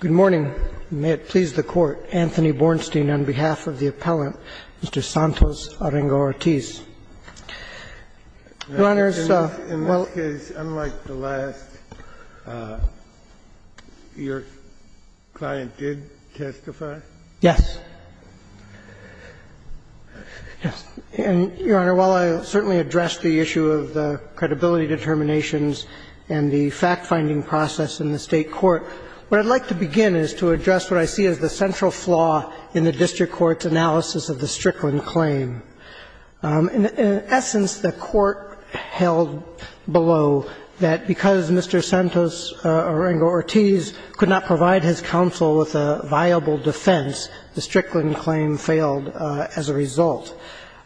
Good morning. May it please the Court. Anthony Bornstein, on behalf of the appellant, Mr. Santos Arango-Ortiz. Your Honor, while- In this case, unlike the last, your client did testify? Yes. Yes. And, Your Honor, while I certainly addressed the issue of the credibility determinations and the fact-finding process in the State court, what I'd like to begin is to address what I see as the central flaw in the district court's analysis of the Strickland claim. In essence, the court held below that because Mr. Santos Arango-Ortiz could not provide his counsel with a viable defense, the Strickland claim failed as a result.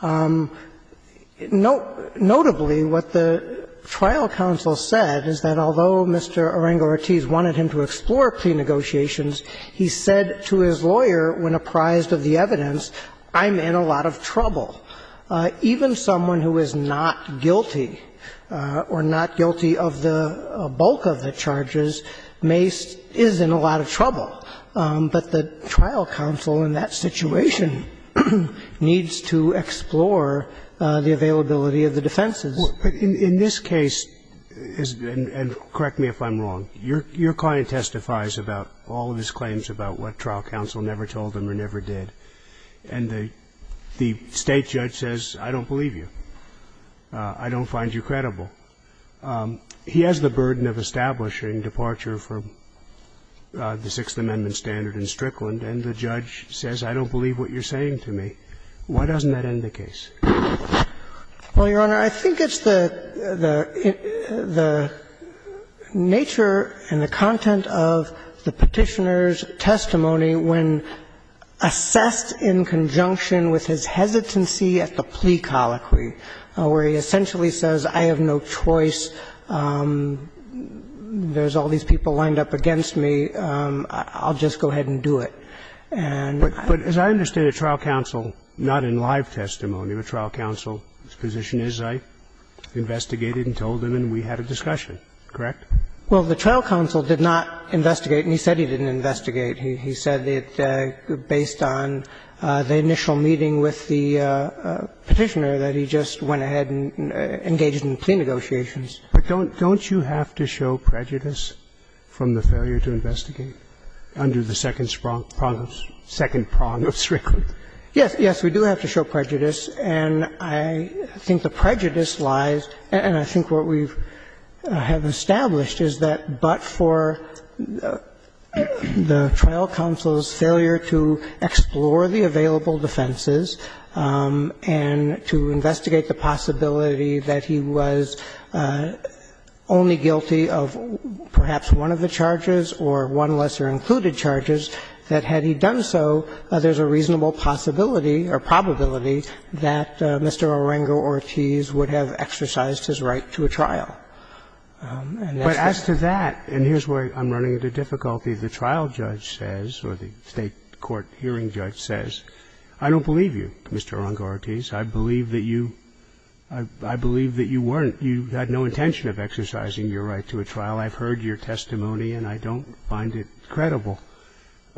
Notably, what the trial counsel said is that although Mr. Arango-Ortiz wanted him to explore pre-negotiations, he said to his lawyer, when apprised of the evidence, I'm in a lot of trouble. Even someone who is not guilty or not guilty of the bulk of the charges may be in a lot of trouble, but the trial counsel in that situation needs to explore the availability of the defenses. In this case, and correct me if I'm wrong, your client testifies about all of his claims about what trial counsel never told him or never did, and the State judge says, I don't I don't find you credible. He has the burden of establishing departure for the Sixth Amendment standard in Strickland, and the judge says, I don't believe what you're saying to me. Why doesn't that end the case? Well, Your Honor, I think it's the nature and the content of the Petitioner's testimony when assessed in conjunction with his hesitancy at the plea colloquy, where he essentially says, I have no choice, there's all these people lined up against me, I'll just go ahead and do it. But as I understand it, trial counsel, not in live testimony, but trial counsel, his position is, I investigated and told him and we had a discussion, correct? Well, the trial counsel did not investigate, and he said he didn't investigate. He said that based on the initial meeting with the Petitioner, that he just went ahead and engaged in plea negotiations. But don't you have to show prejudice from the failure to investigate under the second prong of Strickland? Yes, yes, we do have to show prejudice, and I think the prejudice lies, and I think what we have established is that but for the trial counsel's failure to explore the available defenses and to investigate the possibility that he was only guilty of perhaps one of the charges or one lesser included charges, that had he done so, there's a reasonable possibility or probability that Mr. Arango-Ortiz would have exercised his right to a trial. And that's the case. But as to that, and here's where I'm running into difficulty, the trial judge says or the State court hearing judge says, I don't believe you, Mr. Arango-Ortiz. I believe that you weren't, you had no intention of exercising your right to a trial. I've heard your testimony and I don't find it credible.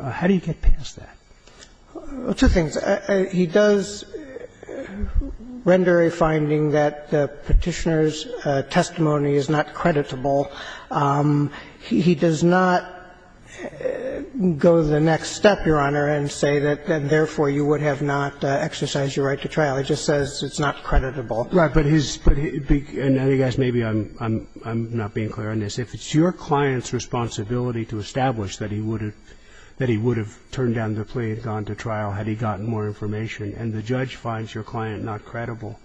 How do you get past that? Well, two things. He does render a finding that the Petitioner's testimony is not creditable. He does not go the next step, Your Honor, and say that therefore you would have not exercised your right to trial. He just says it's not creditable. Right. But his, and I guess maybe I'm not being clear on this. If it's your client's responsibility to establish that he would have turned down the plea and gone to trial had he gotten more information and the judge finds your client not credible,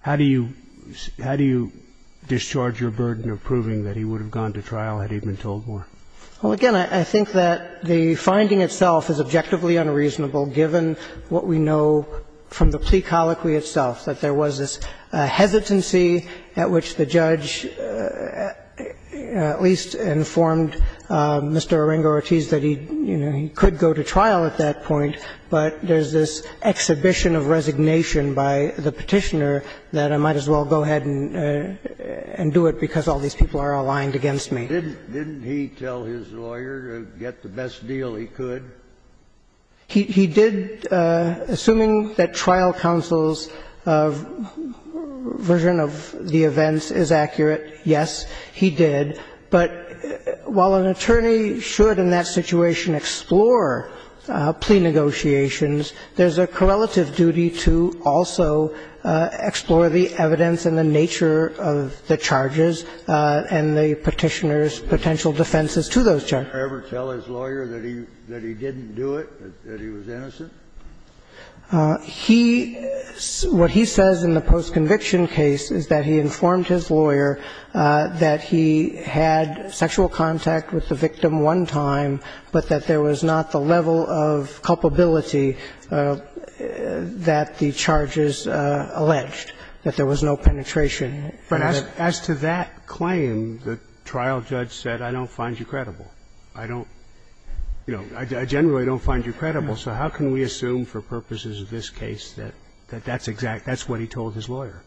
how do you discharge your burden of proving that he would have gone to trial had he been told more? Well, again, I think that the finding itself is objectively unreasonable, given what we know from the plea colloquy itself, that there was this hesitancy at which the judge at least informed Mr. Arango-Ortiz that he, you know, he could go to trial at that point, but there's this exhibition of resignation by the Petitioner that I might as well go ahead and do it because all these people are aligned against me. Didn't he tell his lawyer to get the best deal he could? He did. Assuming that trial counsel's version of the events is accurate, yes, he did. But while an attorney should in that situation explore plea negotiations, there's a correlative duty to also explore the evidence and the nature of the charges and the Petitioner's potential defenses to those charges. Did the Petitioner ever tell his lawyer that he didn't do it, that he was innocent? He – what he says in the post-conviction case is that he informed his lawyer that he had sexual contact with the victim one time, but that there was not the level of culpability that the charges alleged, that there was no penetration. But as to that claim, the trial judge said, I don't find you credible. I don't – you know, I generally don't find you credible. So how can we assume for purposes of this case that that's exact – that's what he told his lawyer?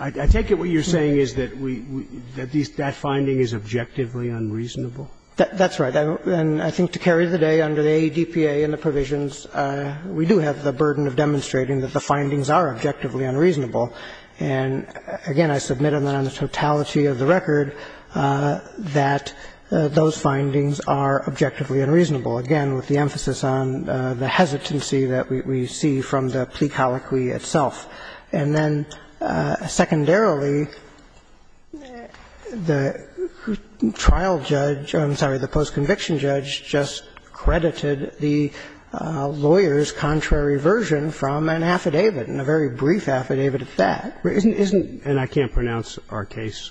I take it what you're saying is that we – that these – that finding is objectively unreasonable? That's right. And I think to carry the day under the ADPA and the provisions, we do have the burden of demonstrating that the findings are objectively unreasonable. And, again, I submit on the totality of the record that those findings are objectively unreasonable, again, with the emphasis on the hesitancy that we see from the plea colloquy itself. And then, secondarily, the trial judge – I'm sorry, the post-conviction judge just credited the lawyer's contrary version from an affidavit, and a very brief affidavit at that. Isn't – isn't – And I can't pronounce our case.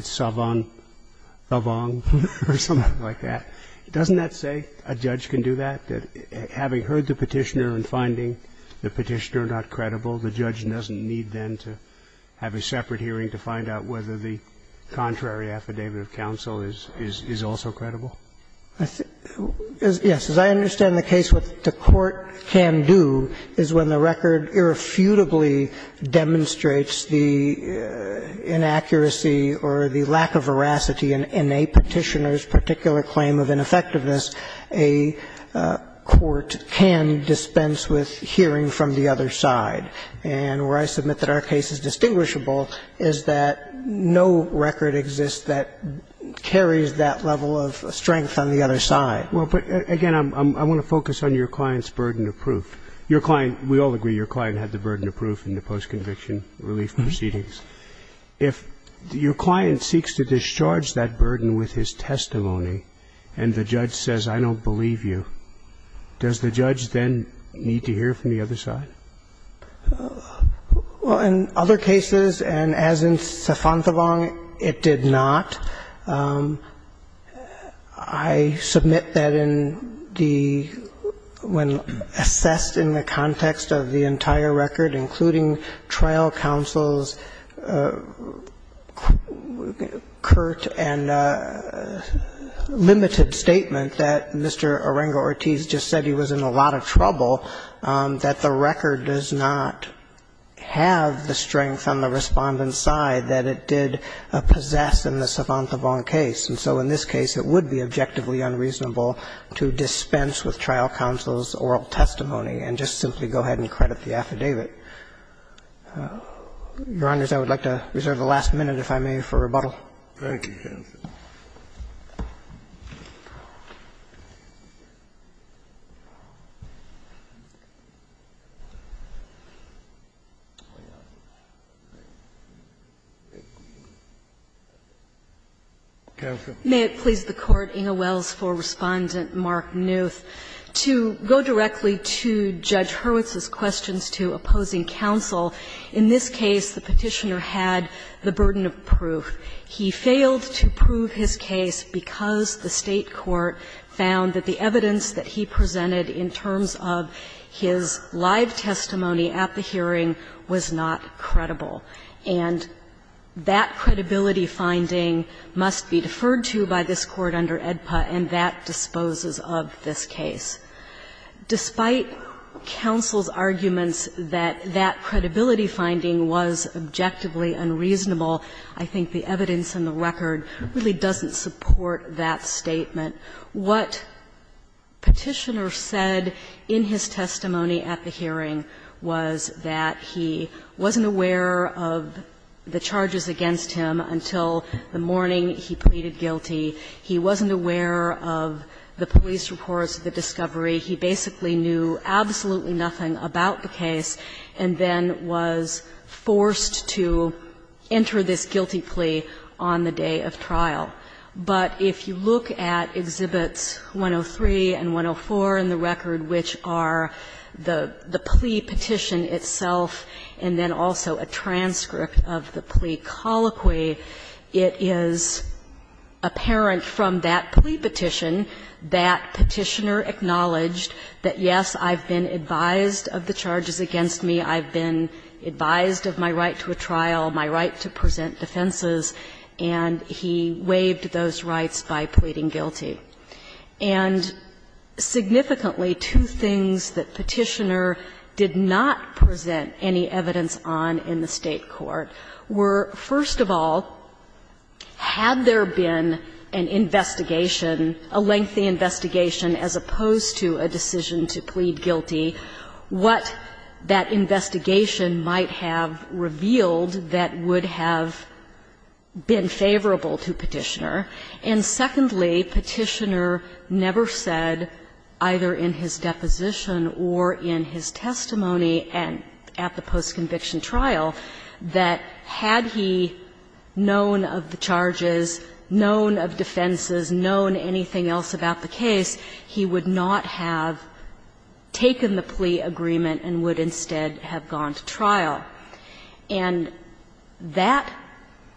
Savon – Savong or something like that. Doesn't that say a judge can do that, that having heard the Petitioner and finding the Petitioner not credible, the judge doesn't need then to have a separate hearing to find out whether the contrary affidavit of counsel is also credible? Yes. As I understand the case, what the court can do is when the record irrefutably demonstrates the inaccuracy or the lack of veracity in a Petitioner's particular claim of ineffectiveness, a court can dispense with hearing from the other side. And where I submit that our case is distinguishable is that no record exists that carries that level of strength on the other side. Well, but, again, I want to focus on your client's burden of proof. Your client – we all agree your client had the burden of proof in the post-conviction relief proceedings. If your client seeks to discharge that burden with his testimony and the judge says, I don't believe you, does the judge then need to hear from the other side? Well, in other cases, and as in Savonthabong, it did not. I submit that in the – when assessed in the context of the entire record, including trial counsel's curt and limited statement that Mr. Arango-Ortiz just said he was in a lot of trouble, that the record does not have the strength on the Respondent's side that it did possess in the Savonthabong case. And so in this case, it would be objectively unreasonable to dispense with trial counsel's oral testimony and just simply go ahead and credit the affidavit. Your Honors, I would like to reserve the last minute, if I may, for rebuttal. Thank you, counsel. Counsel. May it please the Court, Inge Wells, for Respondent Mark Newth. To go directly to Judge Hurwitz's questions to opposing counsel, in this case the He failed to prove his case because the State court found that the evidence that he presented in terms of his live testimony at the hearing was not credible. And that credibility finding must be deferred to by this Court under AEDPA, and that disposes of this case. Despite counsel's arguments that that credibility finding was objectively unreasonable, I think the evidence in the record really doesn't support that statement. What Petitioner said in his testimony at the hearing was that he wasn't aware of the charges against him until the morning he pleaded guilty. He wasn't aware of the police reports of the discovery. He basically knew absolutely nothing about the case and then was forced to enter this guilty plea on the day of trial. But if you look at Exhibits 103 and 104 in the record, which are the plea petition itself and then also a transcript of the plea colloquy, it is apparent from that plea petition that Petitioner acknowledged that, yes, I've been advised of the charges against me, I've been advised of my right to a trial, my right to present defenses, and he waived those rights by pleading guilty. And significantly, two things that Petitioner did not present any evidence on in the investigation, a lengthy investigation as opposed to a decision to plead guilty, what that investigation might have revealed that would have been favorable to Petitioner. And secondly, Petitioner never said, either in his deposition or in his testimony at the post-conviction trial, that had he known of the charges, known of defenses, known anything else about the case, he would not have taken the plea agreement and would instead have gone to trial. And that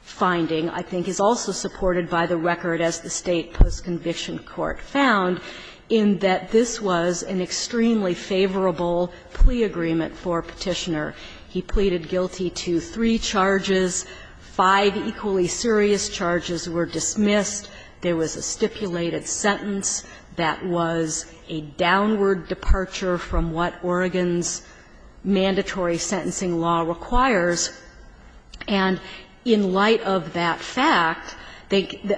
finding, I think, is also supported by the record, as the State post-conviction court found, in that this was an extremely favorable plea agreement for Petitioner. He pleaded guilty to three charges, five equally serious charges were dismissed, there was a stipulated sentence that was a downward departure from what Oregon's mandatory sentencing law requires. And in light of that fact,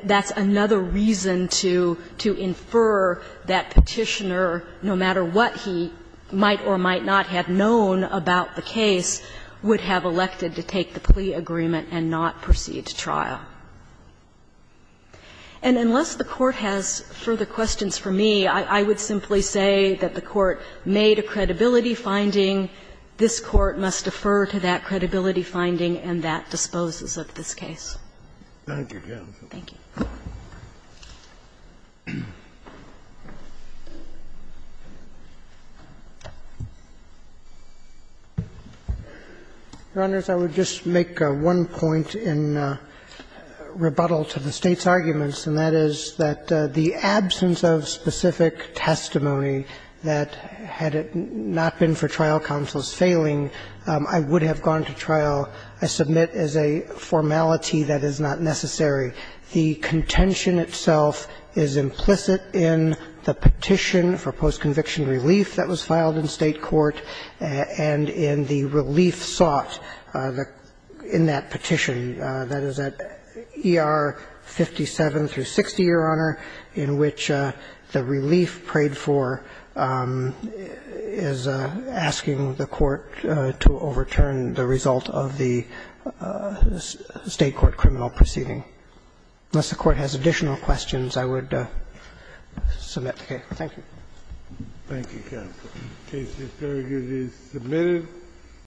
that's another reason to infer that Petitioner, no matter what he might or might not have known about the case, would have elected to take the plea agreement and not proceed to trial. And unless the Court has further questions for me, I would simply say that the Court made a credibility finding. This Court must defer to that credibility finding, and that disposes of this case. Thank you. Thank you. Roberts. I would just make one point in rebuttal to the State's arguments, and that is that the absence of specific testimony that, had it not been for trial counsel's failing, I would have gone to trial, I submit, as a formality that is not necessary The contention itself is implicit in the petition for postconviction relief that was filed in State court and in the relief sought in that petition, that is, at ER 57 through 60, Your Honor, in which the relief prayed for is asking the court to overturn the result of the State court criminal proceeding. Unless the Court has additional questions, I would submit the case. Thank you. Thank you, counsel. The case is very good. It is submitted.